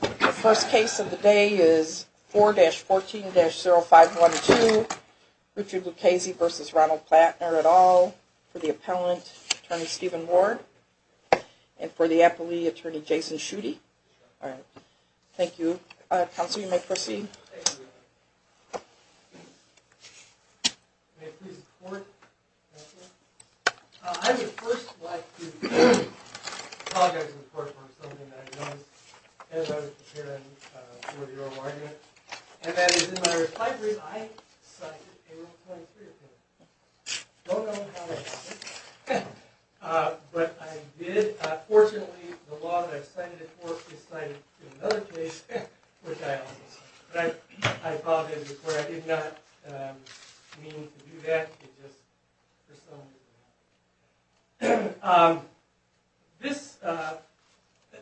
The first case of the day is 4-14-0512, Richard Lucchese v. Ronald Plattner, et al., for the appellant, Attorney Steven Ward, and for the appellee, Attorney Jason Schutte. Thank you. Counsel, you may proceed. I would first like to apologize in the court for something that I did notice as I was preparing for your argument, and that is, in my reply brief, I cited a 1.3 opinion. I don't know how that happened, but I did. Fortunately, the law that I cited before is cited in another case, which I also cited. But I apologize in the court. I did not mean to do that. It just, for some reason, happened. This,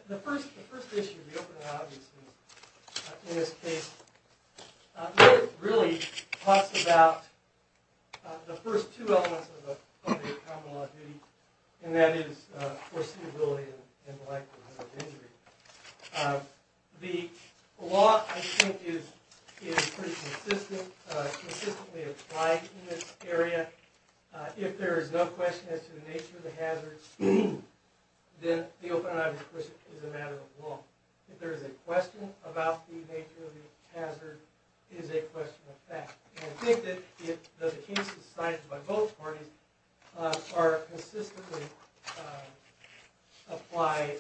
the first issue of the open and obvious case, in this case, really talks about the first two elements of the common law of duty, and that is foreseeability and the likelihood of injury. The law, I think, is pretty consistent, consistently applied in this area. If there is no question as to the nature of the hazards, then the open and obvious question is a matter of law. If there is a question about the nature of the hazard, it is a question of fact. I think that the cases cited by both parties consistently apply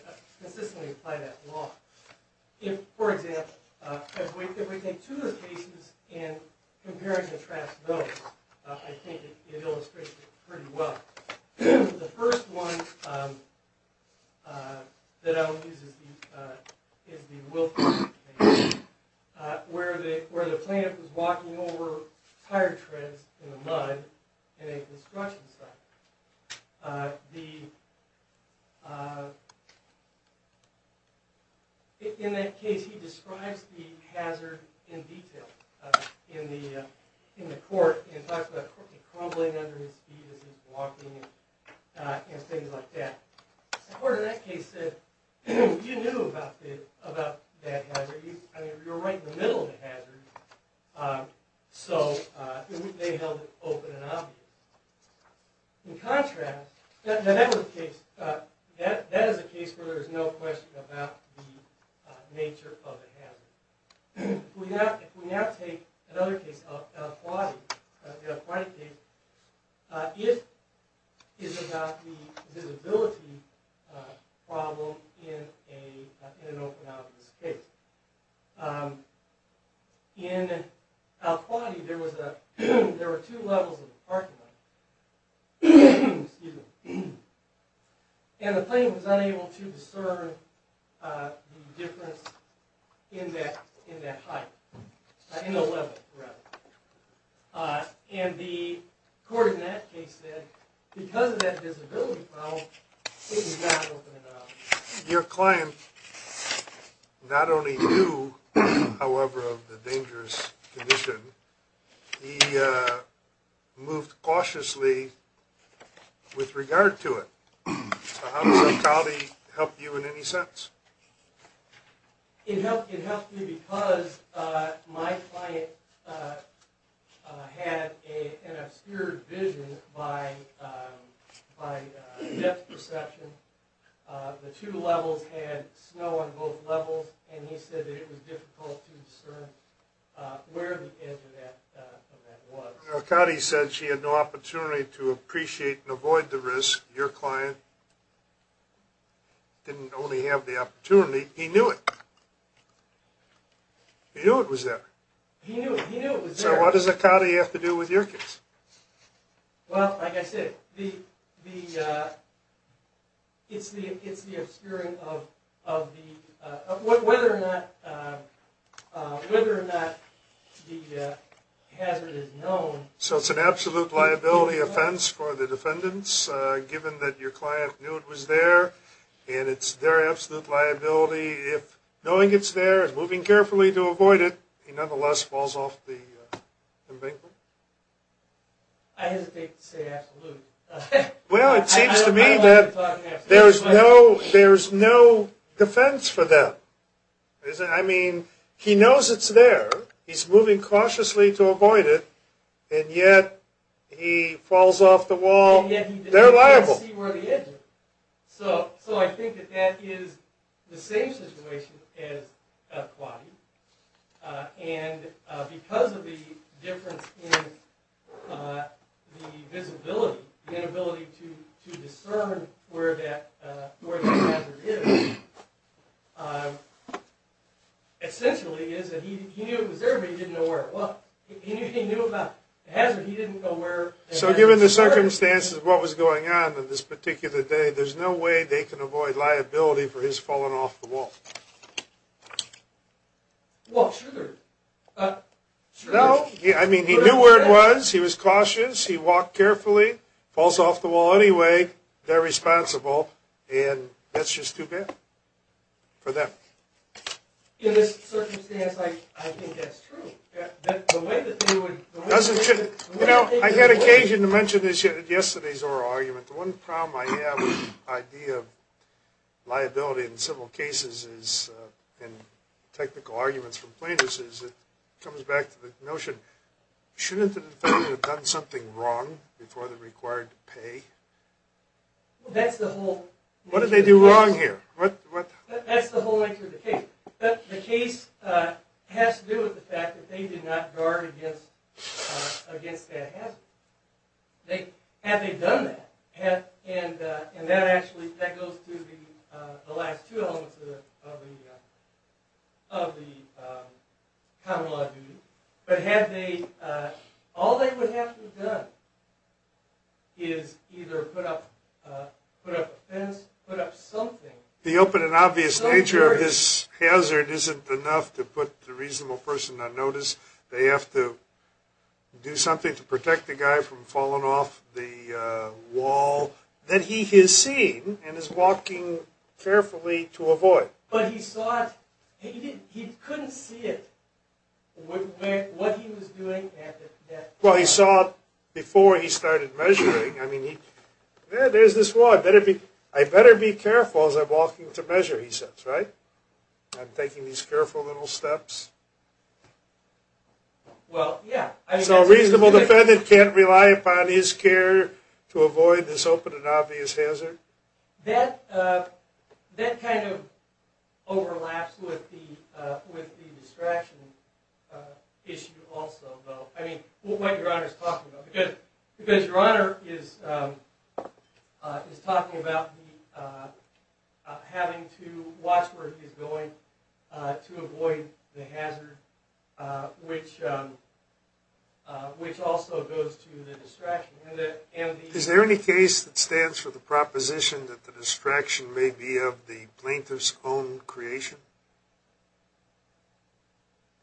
that law. For example, if we take two of the cases and compare and contrast those, I think it illustrates it pretty well. The first one that I will use is the Wilkins case, where the plaintiff was walking over tire treads in the mud in a construction site. In that case, he describes the hazard in detail in the court. He talks about crumbling under his feet as he is walking and things like that. The court in that case said, you knew about that hazard, you were right in the middle of the hazard, so they held it open and obvious. In contrast, that is a case where there is no question about the nature of the hazard. If we now take another case, the Al-Khwadi case, it is about the visibility problem in an open and obvious case. In Al-Khwadi, there were two levels of the parking lot, and the plaintiff was unable to discern the difference in that height, in the level rather. The court in that case said, because of that visibility problem, it was not open and obvious. Your client not only knew, however, of the dangerous condition, he moved cautiously with regard to it. How does Al-Khwadi help you in any sense? It helped me because my client had an obscured vision by depth perception. The two levels had snow on both levels, and he said it was difficult to discern where the edge of that was. Al-Khwadi said she had no opportunity to appreciate and avoid the risk. Your client didn't only have the opportunity, he knew it. He knew it was there. He knew it was there. So what does Al-Khwadi have to do with your case? Well, like I said, it's the obscuring of whether or not the hazard is known. So it's an absolute liability offense for the defendants, given that your client knew it was there, and it's their absolute liability if, knowing it's there and moving carefully to avoid it, he nonetheless falls off the bank. I hesitate to say absolutely. Well, it seems to me that there's no defense for that. I mean, he knows it's there. He's moving cautiously to avoid it, and yet he falls off the wall. They're liable. So I think that that is the same situation as Al-Khwadi, and because of the difference in the visibility, the inability to discern where the hazard is, essentially is that he knew it was there, but he didn't know where. Well, he knew about the hazard, but he didn't know where the hazard was. So given the circumstances of what was going on on this particular day, there's no way they can avoid liability for his falling off the wall. I mean, he knew where it was. He was cautious. He walked carefully. Falls off the wall anyway. They're responsible, and that's just too bad for them. In this circumstance, I think that's true. I had occasion to mention yesterday's oral argument. The one problem I have with the idea of liability in civil cases and technical arguments from plaintiffs is it comes back to the notion, shouldn't the defendant have done something wrong before they're required to pay? What did they do wrong here? That's the whole nature of the case. The case has to do with the fact that they did not guard against that hazard. Had they done that, and that actually goes to the last two elements of the common law duty, but all they would have to have done is either put up a fence, put up something. The open and obvious nature of his hazard isn't enough to put the reasonable person on notice. They have to do something to protect the guy from falling off the wall that he has seen and is walking carefully to avoid. But he saw it. He couldn't see it, what he was doing. Well, he saw it before he started measuring. I mean, there's this law. I better be careful as I'm walking to measure, he says, right? I'm taking these careful little steps. Well, yeah. So a reasonable defendant can't rely upon his care to avoid this open and obvious hazard? That kind of overlaps with the distraction issue also, though. I mean, what Your Honor is talking about. Because Your Honor is talking about having to watch where he's going to avoid the hazard, which also goes to the distraction. Is there any case that stands for the proposition that the distraction may be of the plaintiff's own creation?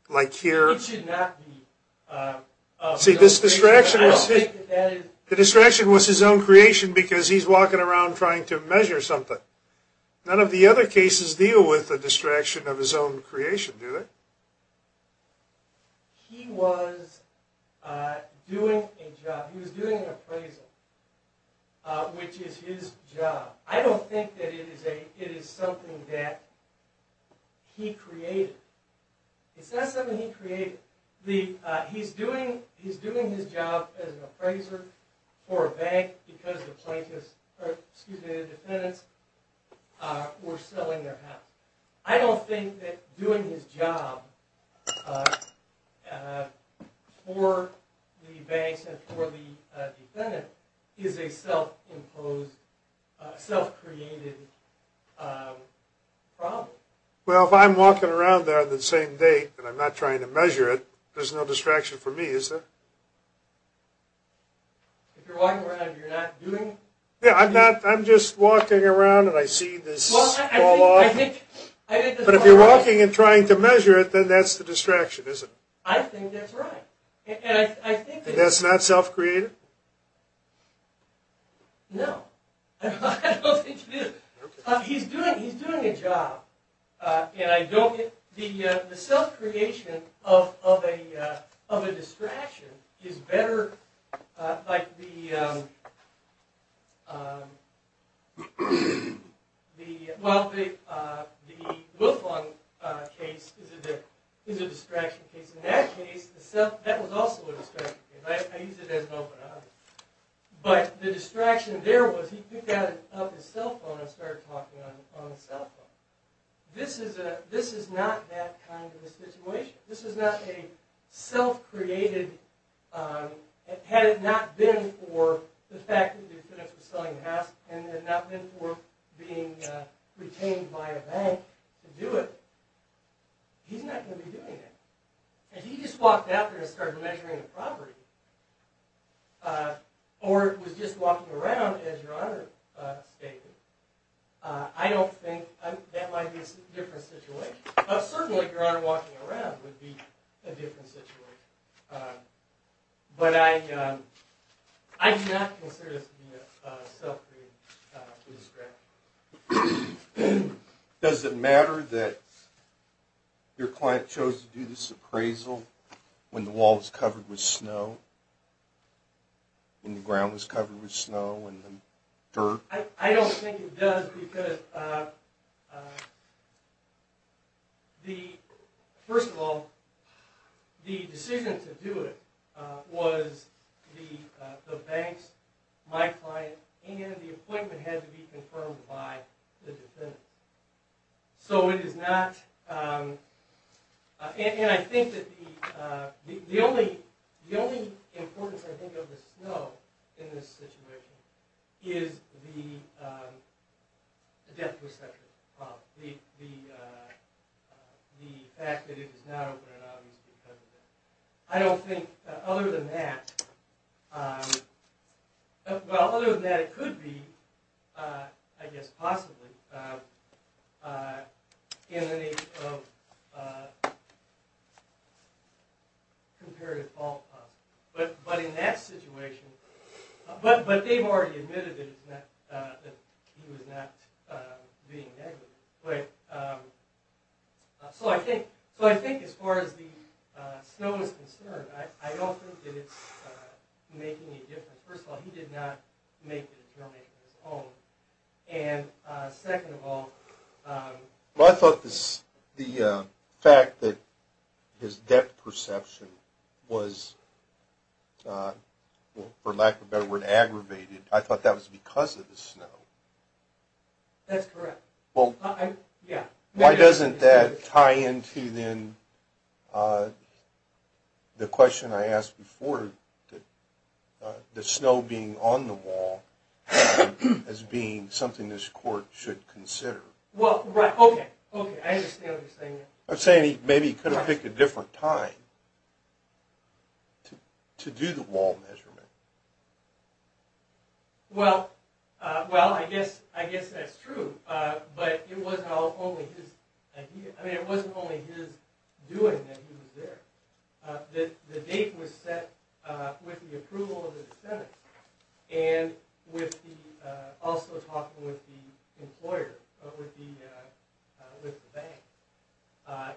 Like here? It should not be. See, this distraction was his own creation because he's walking around trying to measure something. None of the other cases deal with the distraction of his own creation, do they? He was doing a job. He was doing an appraisal, which is his job. I don't think that it is something that he created. It's not something he created. He's doing his job as an appraiser for a bank because the plaintiffs, or excuse me, the defendants, were selling their house. I don't think that doing his job for the banks and for the defendant is a self-imposed, self-created problem. Well, if I'm walking around there on the same day and I'm not trying to measure it, there's no distraction for me, is there? If you're walking around and you're not doing it? Yeah, I'm just walking around and I see this fall off. But if you're walking and trying to measure it, then that's the distraction, is it? I think that's right. And that's not self-created? No. I don't think it is. He's doing a job. The self-creation of a distraction is better. The Wilfong case is a distraction case. In that case, that was also a distraction case. I use it as an open object. But the distraction there was he picked up his cell phone and started talking on the cell phone. This is not that kind of a situation. This is not a self-created... Had it not been for the fact that the defendants were selling the house, and had it not been for being retained by a bank to do it, he's not going to be doing that. If he just walked out there and started measuring the property, or was just walking around, as Your Honor stated, I don't think that might be a different situation. Certainly, Your Honor, walking around would be a different situation. But I do not consider this to be a self-created distraction. Does it matter that your client chose to do this appraisal when the wall was covered with snow? When the ground was covered with snow and dirt? I don't think it does, because... First of all, the decision to do it was the bank's, my client's, and the appointment had to be confirmed by the defendant. So it is not... And I think that the only importance, I think, of the snow in this situation is the death perception problem. The fact that it is not open, and obviously because of that. I don't think, other than that... Well, other than that, it could be, I guess possibly, in the nature of comparative fault. But in that situation... But they've already admitted that he was not being negative. So I think, as far as the snow is concerned, I don't think that it's making a difference. First of all, he did not make the determination on his own. And second of all... Well, I thought the fact that his death perception was, for lack of a better word, aggravated, I thought that was because of the snow. That's correct. Why doesn't that tie into, then, the question I asked before, the snow being on the wall as being something this court should consider? Well, right. Okay. Okay. I understand what you're saying. I'm saying maybe he could have picked a different time to do the wall measurement. Well, I guess that's true. But it wasn't only his idea. I mean, it wasn't only his doing that he was there. The date was set with the approval of the defendant, and also talking with the employer, with the bank.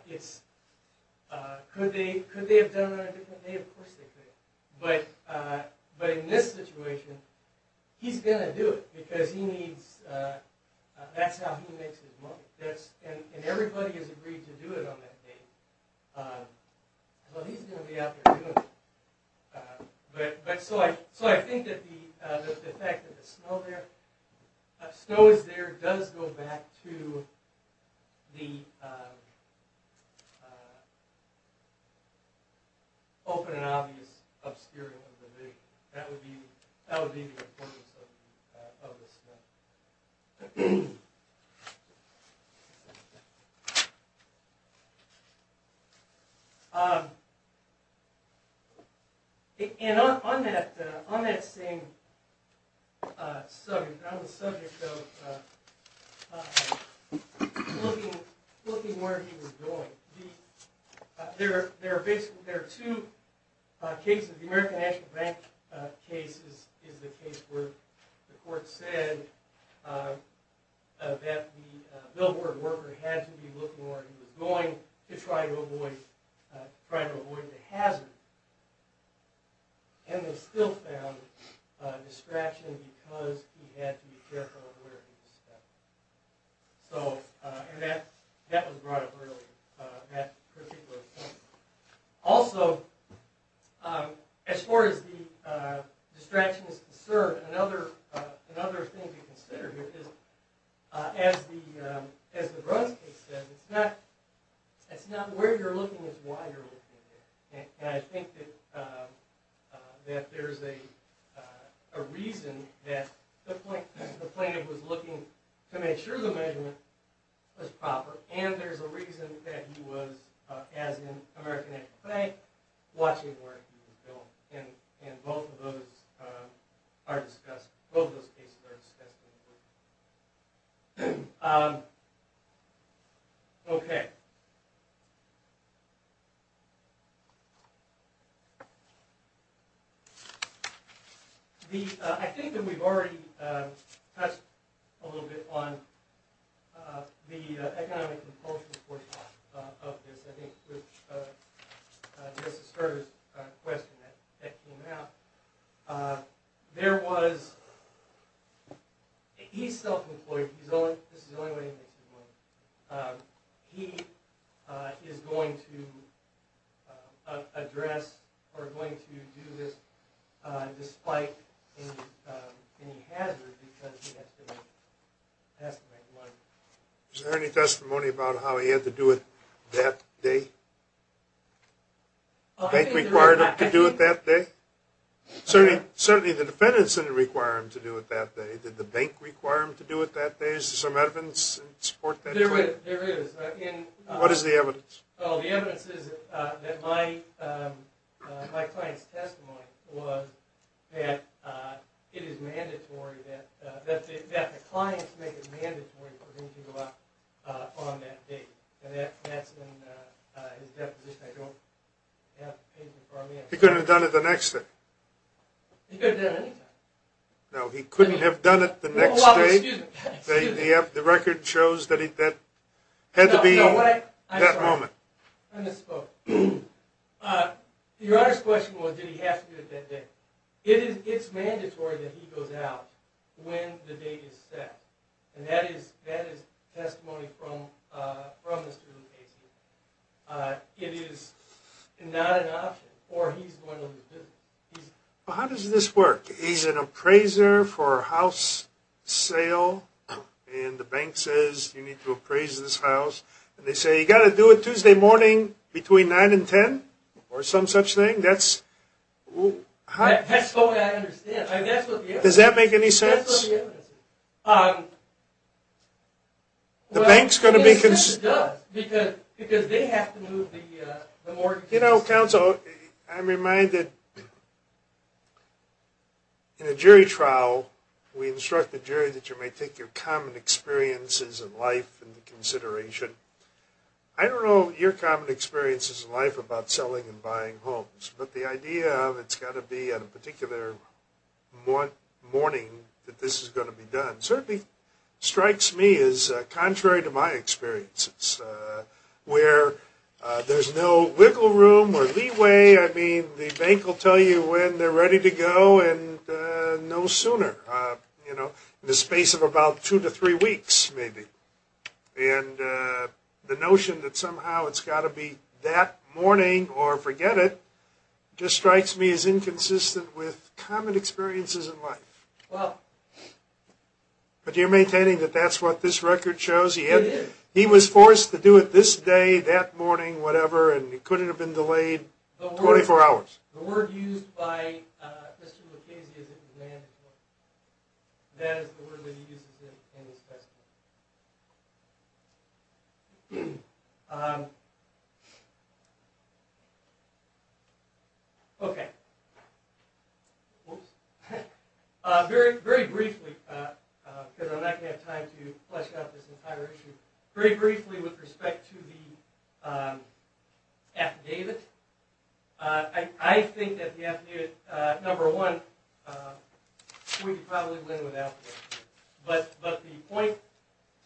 Could they have done it on a different day? Of course they could. But in this situation, he's going to do it because that's how he makes his money. And everybody has agreed to do it on that date. Well, he's going to be out there doing it. So I think that the fact that the snow is there does go back to the open and obvious obscuring of the vision. That would be the importance of the snow. And on that same subject, on the subject of looking where he was going, there are two cases. The American National Bank case is the case where the court said that the billboard worker had to be looking where he was going to try to avoid the hazard. And they still found a distraction because he had to be careful of where he was stepping. And that was brought up earlier, that particular case. Also, as far as the distraction is concerned, another thing to consider here is, as the Bruns case says, it's not where you're looking, it's why you're looking. And I think that there's a reason that the plaintiff was looking to make sure the measurement was proper. And there's a reason that he was, as in the American National Bank, watching where he was going. And both of those cases are discussed in court. Okay. I think that we've already touched a little bit on the economic compulsions of this. I think this is a question that came out. There was, he's self-employed. This is the only way he makes his money. He is going to address or going to do this despite any hazard because he has to make money. Was there any testimony about how he had to do it that day? The bank required him to do it that day? Certainly the defendant didn't require him to do it that day. Did the bank require him to do it that day? Did some evidence support that? There is. What is the evidence? The evidence is that my client's testimony was that it is mandatory that the client make it mandatory for him to go out on that date. And that's in his deposition. He couldn't have done it the next day? He could have done it any time. No, he couldn't have done it the next day. The record shows that it had to be that moment. I misspoke. Your Honor's question was did he have to do it that day. It is mandatory that he goes out when the date is set. And that is testimony from the student case. It is not an option or he's going to lose his business. How does this work? He's an appraiser for a house sale. And the bank says you need to appraise this house. And they say you've got to do it Tuesday morning between 9 and 10 or some such thing? That's the way I understand it. Does that make any sense? That's what the evidence is. The bank's going to be concerned. It certainly does because they have to move the mortgage. You know, counsel, I'm reminded in a jury trial, we instruct the jury that you may take your common experiences in life into consideration. I don't know your common experiences in life about selling and buying homes. But the idea of it's got to be on a particular morning that this is going to be done certainly strikes me as contrary to my experiences where there's no wiggle room or leeway. I mean, the bank will tell you when they're ready to go and no sooner, you know, in the space of about two to three weeks maybe. And the notion that somehow it's got to be that morning or forget it just strikes me as inconsistent with common experiences in life. But you're maintaining that that's what this record shows? It is. He was forced to do it this day, that morning, whatever, and it couldn't have been delayed 24 hours. The word used by Mr. McKinsey is at demand. That is the word that he uses in his testimony. Okay. Very briefly, because I'm not going to have time to flesh out this entire issue, very briefly with respect to the affidavit. I think that the affidavit, number one, we could probably win without it. But the point,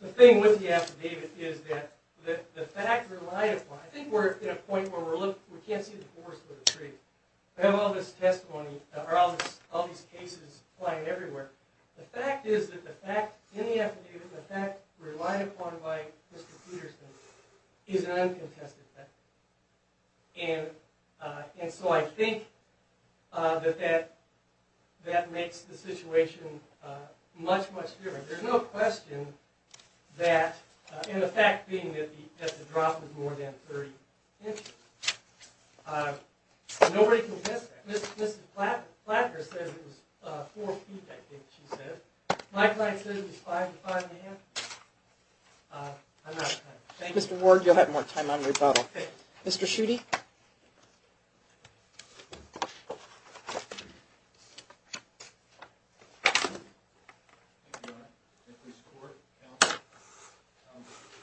the thing with the affidavit is that the fact relied upon, I think we're at a point where we can't see the forest with a tree. I have all this testimony, all these cases flying everywhere. The fact is that the fact in the affidavit, the fact relied upon by Mr. Peterson is an uncontested fact. And so I think that that makes the situation much, much different. There's no question that, and the fact being that the drop was more than 30 inches. Nobody can test that. Mr. Plattner said it was four feet, I think she said. My client says it was five to five and a half. I'm out of time. Mr. Ward, you'll have more time on rebuttal. Mr. Schutte.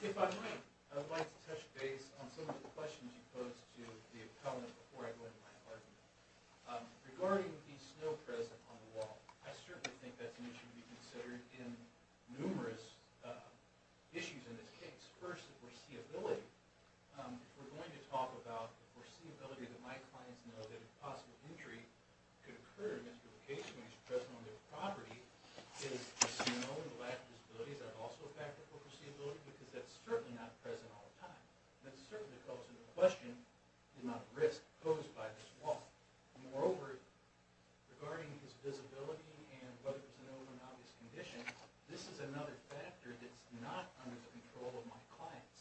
If I might, I'd like to touch base on some of the questions you posed to the appellant before I go into my argument. Regarding the snow present on the wall, I certainly think that's an issue to be considered in numerous issues in this case. First, the foreseeability. We're going to talk about the foreseeability that my clients know that a possible injury could occur in this location when it's present on their property. Is the snow and the lack of visibility, is that also a factor for foreseeability? Because that's certainly not present all the time. That certainly calls into question the amount of risk posed by this wall. Moreover, regarding this visibility and whether it's known or an obvious condition, this is another factor that's not under the control of my clients.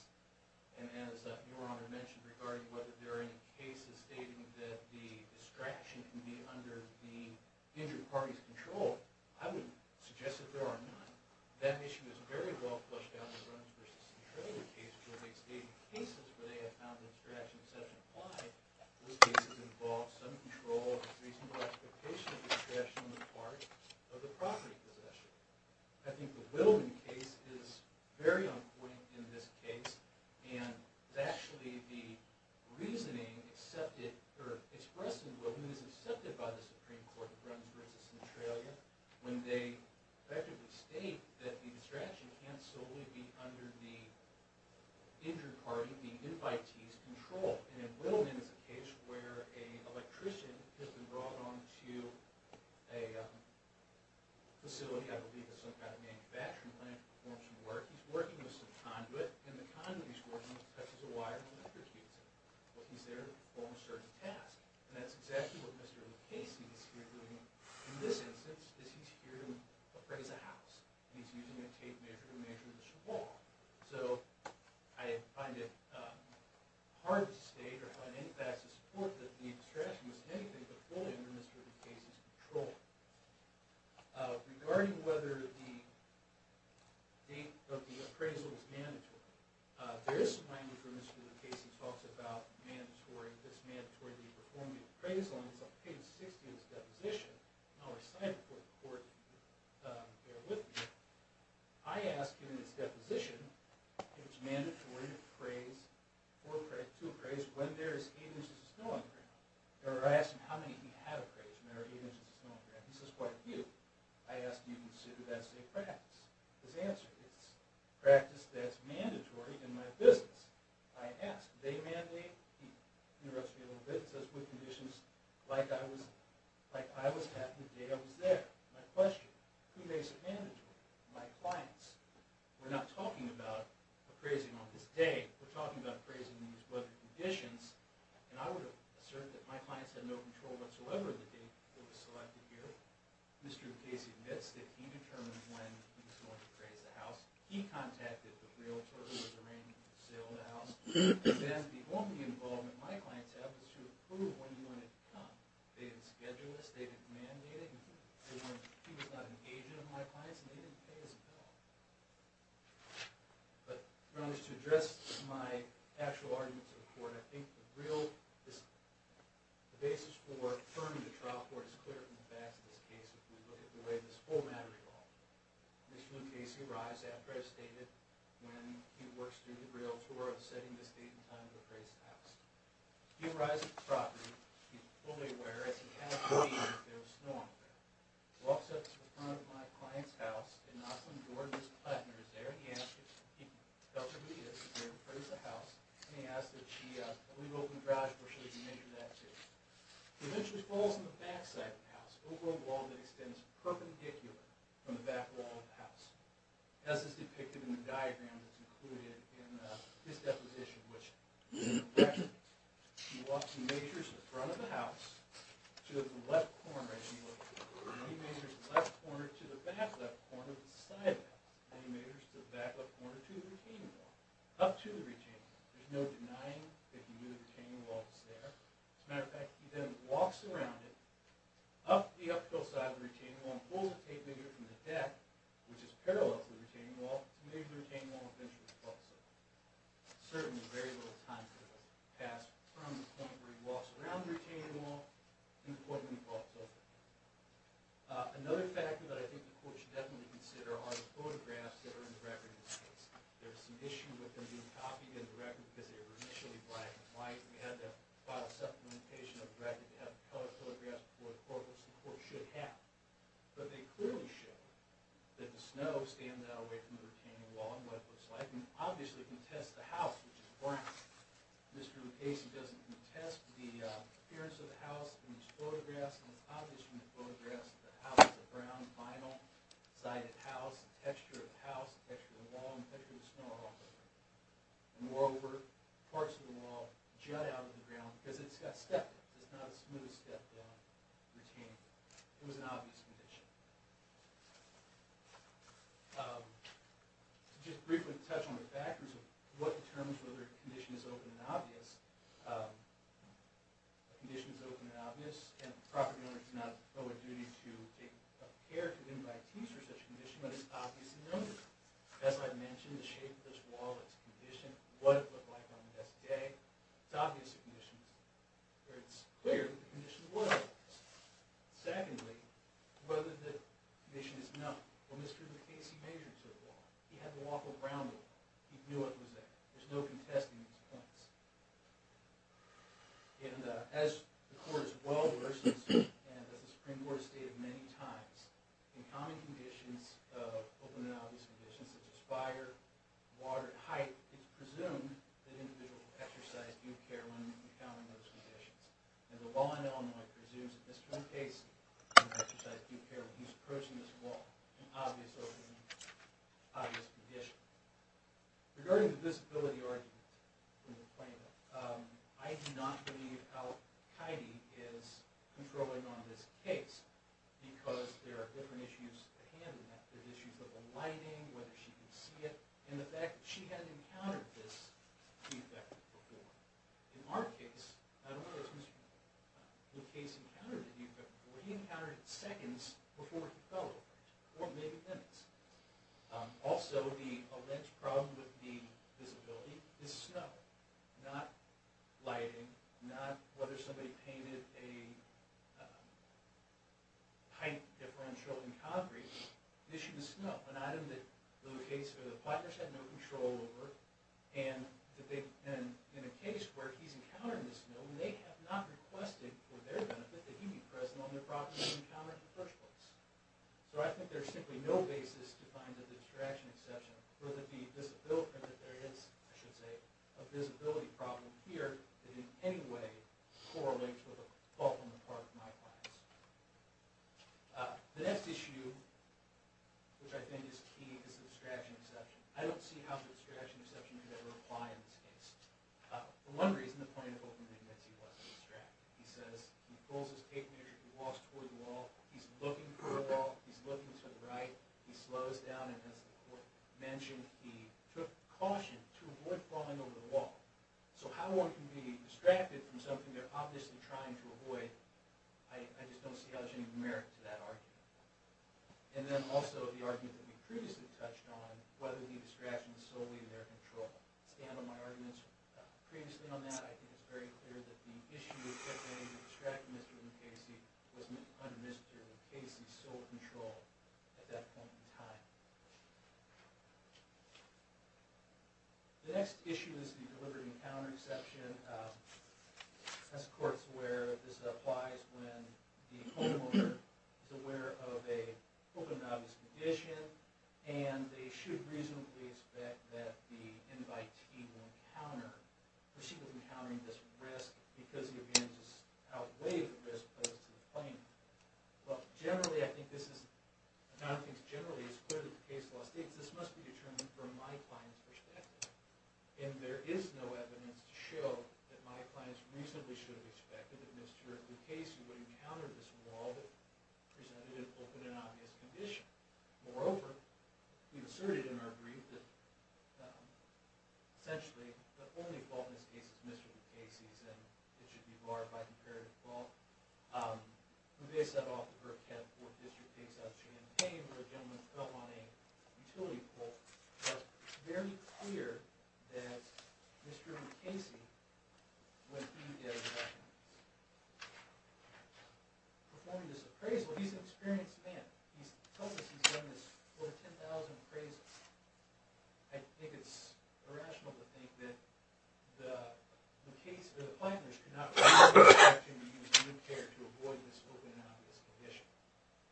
And as Your Honor mentioned regarding whether there are any cases stating that the distraction can be under the injured party's control, I would suggest that there are none. That issue is very well flushed out in the Runners v. Centralia case, where they've stated cases where they have found the distraction to have been implied. Those cases involve some control and a reasonable expectation of distraction on the part of the property possessor. I think the Wilman case is very on point in this case. And actually, the reasoning expressed in Wilman is accepted by the Supreme Court in the Runners v. Centralia, when they effectively state that the distraction can't solely be under the injured party, the invitee's, control. And in Wilman, it's a case where an electrician has been brought on to a facility, I believe it's some kind of manufacturing plant, to perform some work. He's working with some conduit, and the conduit he's working with presses a wire on the electrician. But he's there to perform a certain task. And that's exactly what Mr. Casey is here doing in this instance, is he's here to appraise a house. And he's using a tape measure to measure this wall. So I find it hard to state or find any facts to support that the distraction was anything but fully under Mr. Casey's control. Regarding whether the date of the appraisal is mandatory, there is some language where Mr. Casey talks about this mandatory to be performed with appraisal. And it's on page 60 of his deposition. And I'll recite it for the court to bear with me. I ask, in his deposition, if it's mandatory to appraise when there is 8 inches of snow on the ground. Or I ask him how many of you have appraised when there are 8 inches of snow on the ground. He says quite a few. I ask you to consider that as a practice. His answer is, practice that's mandatory in my business. I ask, they mandate, he interrupts me a little bit and says, with conditions like I was having the day I was there. My question, who makes it mandatory? My clients. We're not talking about appraising on this day. We're talking about appraising in these weather conditions. And I would assert that my clients had no control whatsoever of the date that was selected here. Mr. Casey admits that he determined when he was going to appraise the house. He contacted the realtor who was arranging the sale of the house. The only involvement my clients had was to approve when he wanted to come. They didn't schedule this. They didn't mandate it. He was not an agent of my clients. And they didn't pay us at all. But to address my actual argument to the court, I think the basis for turning to trial court is clear from the facts of this case. If you look at the way this whole matter evolved. Mr. Casey arrives after I've stated when he works through the realtor of setting the date and time to appraise the house. He arrives at the property. He's fully aware, as he has been for years, that there was snow on the ground. Walks up to the front of my client's house in Oslin, Georgia's Platteners. There he is. He tells her who he is. He's going to appraise the house. And he asks that she leave open the garage door so that he can enter that too. He eventually falls on the back side of the house, over a wall that extends perpendicular from the back wall of the house. As is depicted in the diagram that's included in this deposition, which is impressive. He walks and measures the front of the house to the left corner, as he would. And he measures the left corner to the back left corner of the side wall. And he measures the back left corner to the retaining wall. Up to the retaining wall. There's no denying that he knew the retaining wall was there. As a matter of fact, he then walks around it, up to the uphill side of the retaining wall, and pulls a tape measure from the deck, which is parallel to the retaining wall, and measures the retaining wall, and eventually falls over. Certainly very little time has passed from the point where he walks around the retaining wall, to the point where he falls over. Another factor that I think the court should definitely consider are the photographs that are in the record in this case. There's some issue with them being copied in the record, because they were initially black and white. We had to file a supplementation of the record to have color photographs before the court. Which the court should have. But they clearly show that the snow stands out away from the retaining wall, and what it looks like. And it obviously contests the house, which is brown. Mr. Lucchesi doesn't contest the appearance of the house in his photographs. And it's obvious from the photographs that the house is a brown, vinyl-sided house. The texture of the house, the texture of the wall, and the texture of the snow are all different. And moreover, parts of the wall jut out of the ground, because it's got stepped in. It's not a smooth step-down retaining wall. It was an obvious condition. Just briefly to touch on the factors of what determines whether a condition is open and obvious. A condition is open and obvious, and the property owner does not owe a duty to a pair to then buy a piece for such a condition, but it's obvious and noticeable. As I mentioned, the shape of this wall, it's condition, what it looked like on the best day, it's obvious a condition. It's clear that the condition was obvious. Secondly, whether the condition is known. Well, Mr. Lucchesi measures the wall. He had to walk around with it. He knew what it was like. There's no contesting these points. And as the court has well versed, and as the Supreme Court has stated many times, in common conditions of open and obvious conditions, such as fire, water, height, it's presumed that individuals exercise due care when encountering those conditions. And the law in Illinois presumes that Mr. Lucchesi can exercise due care when he's approaching this wall, in obvious open and obvious conditions. Regarding the visibility argument in the claimant, I do not believe Al-Qaeda is controlling on this case, because there are different issues at hand in that. There's issues with the lighting, whether she can see it, and the fact that she hadn't encountered this feedback before. In our case, I don't know if Mr. Lucchesi encountered the feedback before. He encountered it seconds before it fell open, or maybe minutes. Also, the alleged problem with the visibility is snow. Not lighting, not whether somebody painted a height differential in concrete. This should be snow, an item that Lucchesi had no control over. And in a case where he's encountered this snow, they have not requested for their benefit that he be present on the property he encountered in the first place. So I think there's simply no basis to find that there's a distraction exception, or that there is a visibility problem here, that in any way correlates with a fault on the part of my clients. The next issue, which I think is key, is the distraction exception. I don't see how the distraction exception could ever apply in this case. For one reason, the plaintiff ultimately makes you want to distract. He says, he pulls his tape measure, he walks toward the wall, he's looking for the wall, he's looking to the right, he slows down, and as the court mentioned, he took caution to avoid falling over the wall. So how one can be distracted from something they're obviously trying to avoid, I just don't see how there's any merit to that argument. And then also, the argument that we previously touched on, whether the distraction is solely their control. I stand on my arguments previously on that. I think it's very clear that the issue of the distractedness within Casey was under Mr. Casey's sole control at that point in time. The next issue is the deliberate encounter exception. As the court is aware, this applies when the homeowner is aware of a open and obvious condition, and they should reasonably expect that the invitee will encounter, or she will be encountering this risk because the evidences outweigh the risk posed to the plaintiff. But generally, I think this is, and I don't think it's generally as clear as the case law states, this must be determined from my client's perspective. And there is no evidence to show that my client reasonably should have expected that Mr. Casey would encounter this wall that presented an open and obvious condition. Moreover, we've asserted in our brief that, essentially, the only fault in this case is Mr. Casey's, and it should be barred by comparative fault. We based that off of her attempt for a district case out of June and Payne, where a gentleman fell on a utility pole. It's very clear that Mr. Casey, when he is performing this appraisal, he's an experienced man. He's told us he's done this for 10,000 appraisals. I think it's irrational to think that the case, or the plaintiff, could not reasonably expect him to use a new care to avoid this open and obvious condition,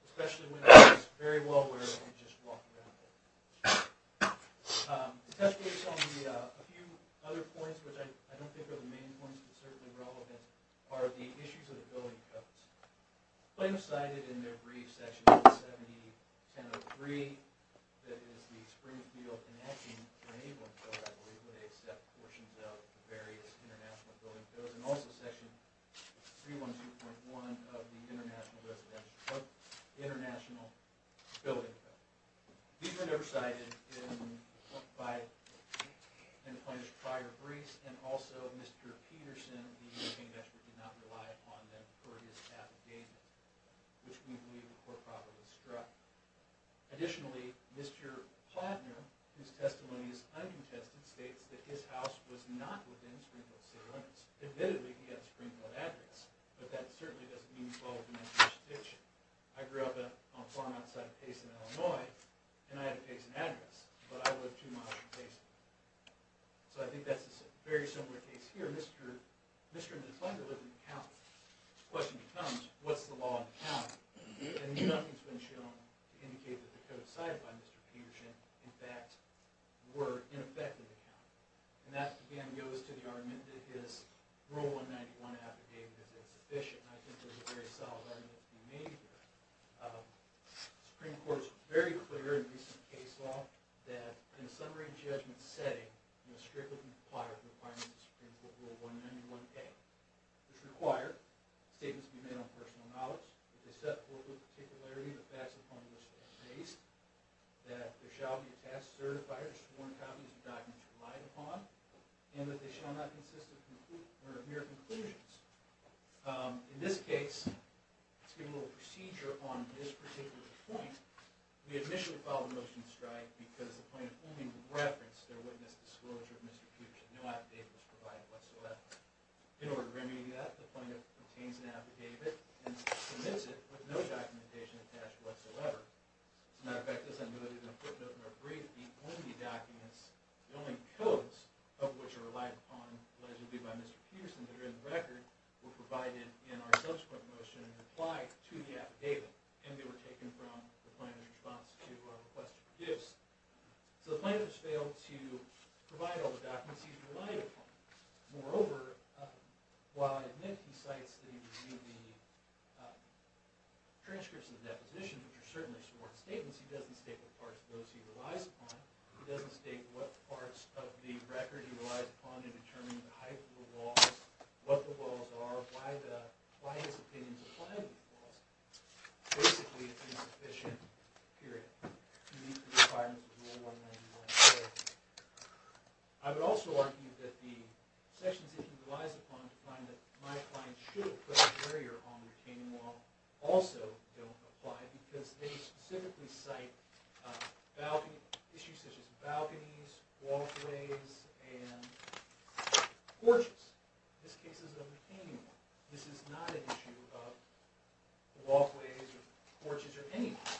especially when it's very well aware that he just walked around it. A few other points, which I don't think are the main points, but certainly relevant, are the issues of the building codes. The plaintiff cited in their brief section 710.03, that is the Springfield Enhancing Enabling Code, I believe, where they accept portions of the various international building codes, and also section 312.1 of the International Residential Code, the International Building Code. These were never cited in the plaintiff's prior briefs, and also, Mr. Peterson, the moving investor, did not rely upon them for his affidavit, which we believe the court probably struck. Additionally, Mr. Plotner, whose testimony is uncontested, states that his house was not within Springfield City limits. Admittedly, he had a Springfield address, but that certainly doesn't mean he followed the national jurisdiction. I grew up on a farm outside of Payson, Illinois, and I had a Payson address, but I lived two miles from Payson. So I think that's a very similar case here. Mr. Plotner lived in the county. The question becomes, what's the law in the county? And nothing's been shown to indicate that the codes cited by Mr. Peterson, in fact, were in effect in the county. And that, again, goes to the argument that his Rule 191 affidavit is sufficient. I think there's a very solid argument to be made there. The Supreme Court is very clear in the recent case law that in a summary judgment setting, it will strictly require the requirement of the Supreme Court Rule 191A, which require statements to be made on personal knowledge, that they set forth with particularity the facts upon which they are based, that there shall be a past certifier to sworn copies of documents relied upon, and that they shall not consist of mere conclusions. In this case, let's give a little procedure on this particular point. We initially filed a motion to strike because the plaintiff only referenced their witness disclosure of Mr. Peterson. No affidavit was provided whatsoever. In order to remedy that, the plaintiff obtains an affidavit and submits it with no documentation attached whatsoever. As a matter of fact, as I noted in a footnote in our brief, the only documents, the only codes of which are relied upon allegedly by Mr. Peterson that are in the record, were provided in our subsequent motion and applied to the affidavit, and they were taken from the plaintiff in response to our request for gifts. So the plaintiff has failed to provide all the documents he's relied upon. Moreover, while I admit he cites the transcripts of the deposition, which are certainly sworn statements, he doesn't state what parts of those he relies upon. He doesn't state what parts of the record he relies upon in determining the height of the walls, what the walls are, why his opinions apply to the walls. Basically, it's an insufficient period to meet the requirements of Rule 199A. I would also argue that the sections that he relies upon to find that my client should have put a barrier on the retaining wall also don't apply because they specifically cite issues such as balconies, walkways, and porches. This case is a retaining wall. This is not an issue of walkways or porches or anything.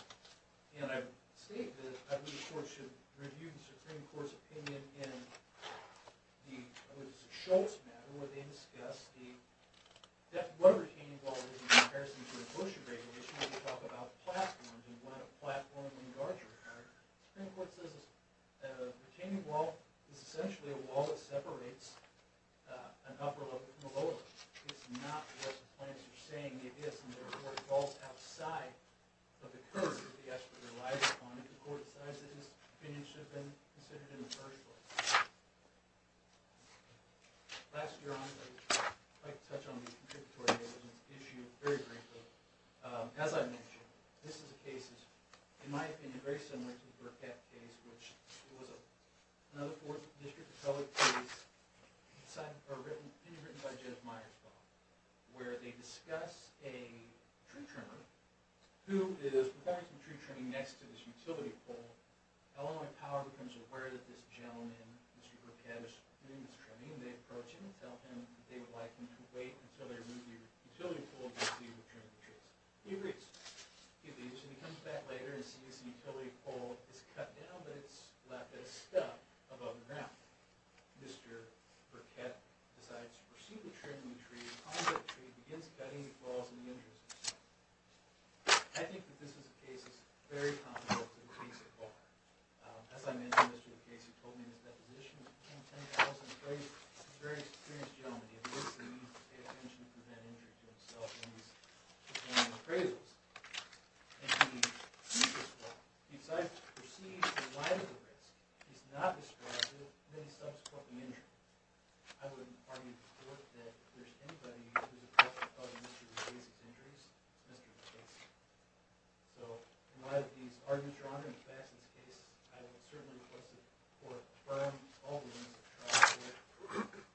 And I state that I believe the Court should review the Supreme Court's opinion in the Schultz matter, where they discuss what a retaining wall is in comparison to the Bush regulations. They talk about platforms and what a platform would regard as a barrier. The Supreme Court says a retaining wall is essentially a wall that separates an upper level from a lower level. It's not what the plaintiffs are saying it is, and therefore it falls outside of the curve that the expert relies upon. If the Court decides that his opinion should have been considered in the first place. Last year, I would like to touch on the contributory issues very briefly. As I mentioned, this is a case that, in my opinion, is very similar to the Burkett case, which was another Fourth District appellate case written by Judge Meyers, where they discuss a tree trimmer who is providing some tree trimming next to this utility pole. Illinois Power becomes aware that this gentleman, Mr. Burkett, is doing this trimming, and they approach him and tell him that they would like him to wait until they remove the utility pole before he would trim the tree. He agrees. He comes back later and sees the utility pole is cut down, but it's left as stuck above the ground. Mr. Burkett decides to pursue the trimming of the tree, and on to the tree, and begins cutting the claws of the injured himself. I think that this is a case that is very common with the case at large. As I mentioned, Mr. Burkett told me in his deposition, he was a very serious gentleman. He obviously paid attention to that injury himself, and he's just one of the appraisals. And he did this well. He decides to proceed in line with the case. He's not distracted, and then he stops cutting the injury. I wouldn't argue to the court that there's anybody who would object to Mr. Burkett's injuries, Mr. Burkett's injuries. So, in light of these arguments drawn in the facts of the case, I would certainly request the support from all the members of the trial court.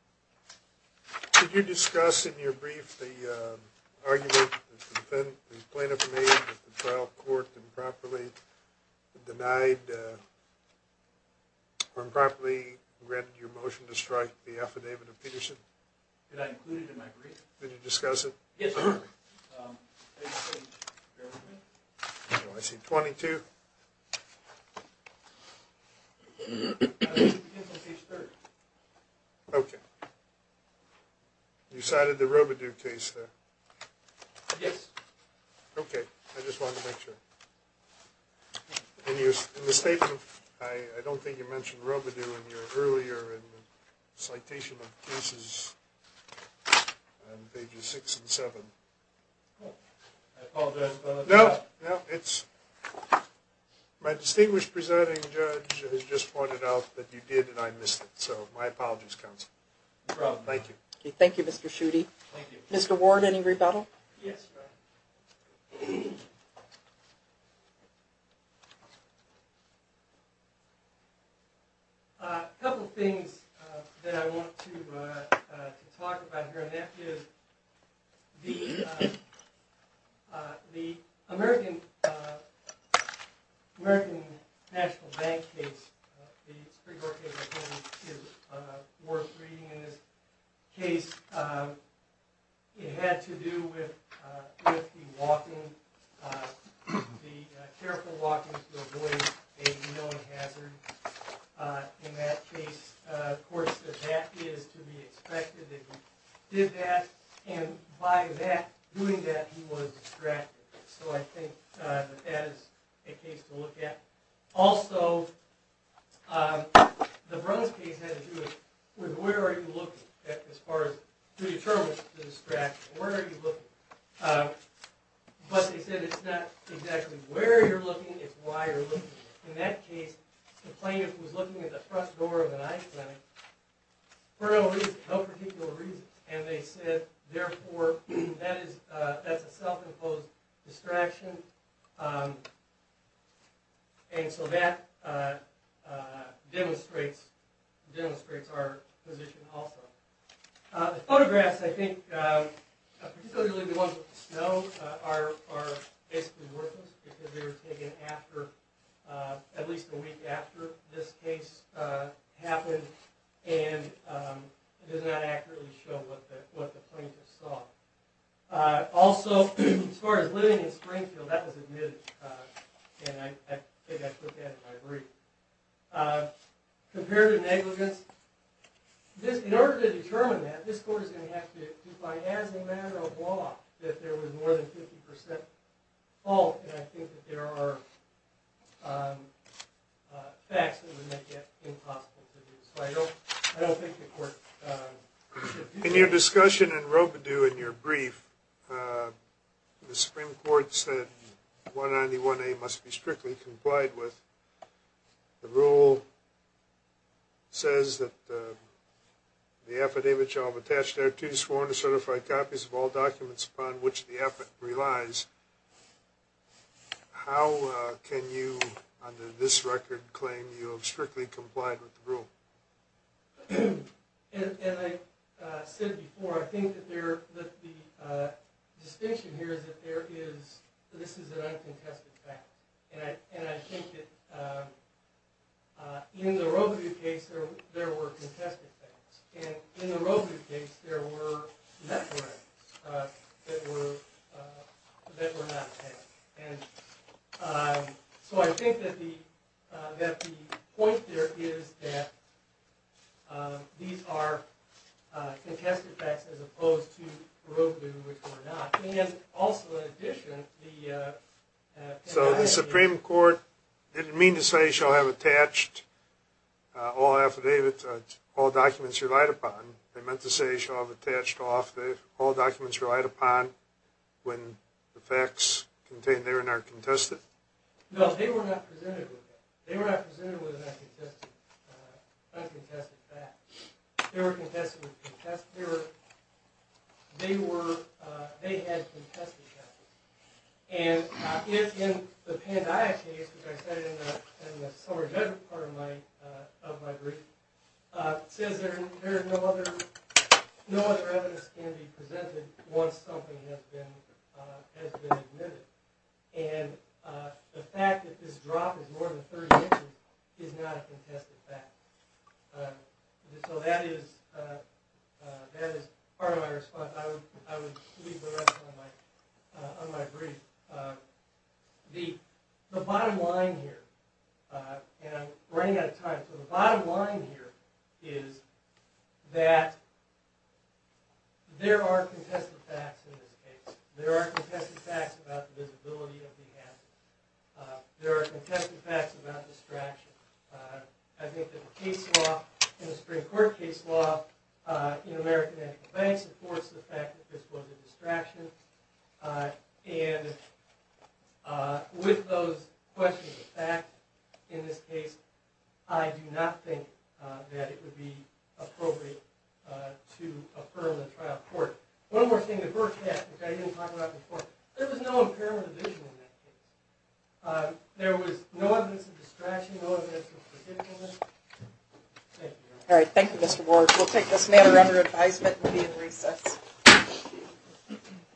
Could you discuss in your brief the argument that the plaintiff made that the trial court improperly denied, or improperly granted your motion to strike the affidavit of Peterson? Did I include it in my brief? Did you discuss it? Yes, I did. I see 22. It begins on page 3. Okay. You cited the Robidoux case there? Yes. Okay. I just wanted to make sure. In the statement, I don't think you mentioned Robidoux in your earlier citation of cases on pages 6 and 7. I apologize about that. No, no. My distinguished presenting judge has just pointed out that you did, and I missed it. So, my apologies, counsel. No problem. Thank you. Thank you, Mr. Schuette. Thank you. Mr. Ward, any rebuttal? Yes. A couple of things that I want to talk about here, and that is the American National Bank case, the Supreme Court case I told you is worth reading in this case. It had to do with the careful walking to avoid a known hazard. In that case, of course, the fact is to be expected that he did that. And by doing that, he was distracted. So, I think that that is a case to look at. Also, the Bruns case had to do with where are you looking as far as predetermining the distraction. Where are you looking? But they said it's not exactly where you're looking, it's why you're looking. In that case, the plaintiff was looking at the front door of an ICE clinic for no reason, no particular reason. And they said, therefore, that's a self-imposed distraction. And so that demonstrates our position also. The photographs, I think, particularly the ones with the snow, are basically worthless because they were taken at least a week after this case happened and it does not accurately show what the plaintiff saw. Also, as far as living in Springfield, that was admitted. And I think I took that in my brief. Comparative negligence. In order to determine that, this court is going to have to find, as a matter of law, that there was more than 50% fault. And I think that there are facts that would make that impossible to do. So, I don't think the court... In your discussion in Robidoux, in your brief, the Supreme Court said 191A must be strictly complied with. The rule says that the affidavit shall have attached thereto sworn to certified copies of all documents upon which the affidavit relies. How can you, under this record, claim you have strictly complied with the rule? As I said before, I think that the distinction here is that this is an uncontested fact. And I think that in the Robidoux case, there were contested facts. And in the Robidoux case, there were networks that were not tagged. And so I think that the point there is that these are contested facts as opposed to Robidoux, which were not. And also, in addition, the... So the Supreme Court didn't mean to say shall have attached all documents relied upon. They meant to say shall have attached all documents relied upon when the facts contained therein are contested. No, they were not presented with that. They were not presented with an uncontested fact. They were contested with... They had contested facts. And in the Pandaya case, which I cited in the summary judgment part of my brief, it says there is no other evidence can be presented once something has been admitted. And the fact that this drop is more than 30 inches is not a contested fact. So that is part of my response. I would leave the rest on my brief. The bottom line here, and I'm running out of time. So the bottom line here is that there are contested facts in this case. There are contested facts about the visibility of the hazard. There are contested facts about distraction. I think that the case law in the Supreme Court case law in American Anticlopics supports the fact that this was a distraction. And with those questions, the fact in this case, I do not think that it would be appropriate to affirm the trial court. One more thing, the first half, which I didn't talk about before, there was no impairment of vision in that case. There was no evidence of distraction, no evidence of forgetfulness. Thank you. All right, thank you, Mr. Borg. We'll take this matter under advisement and be in recess. Thank you.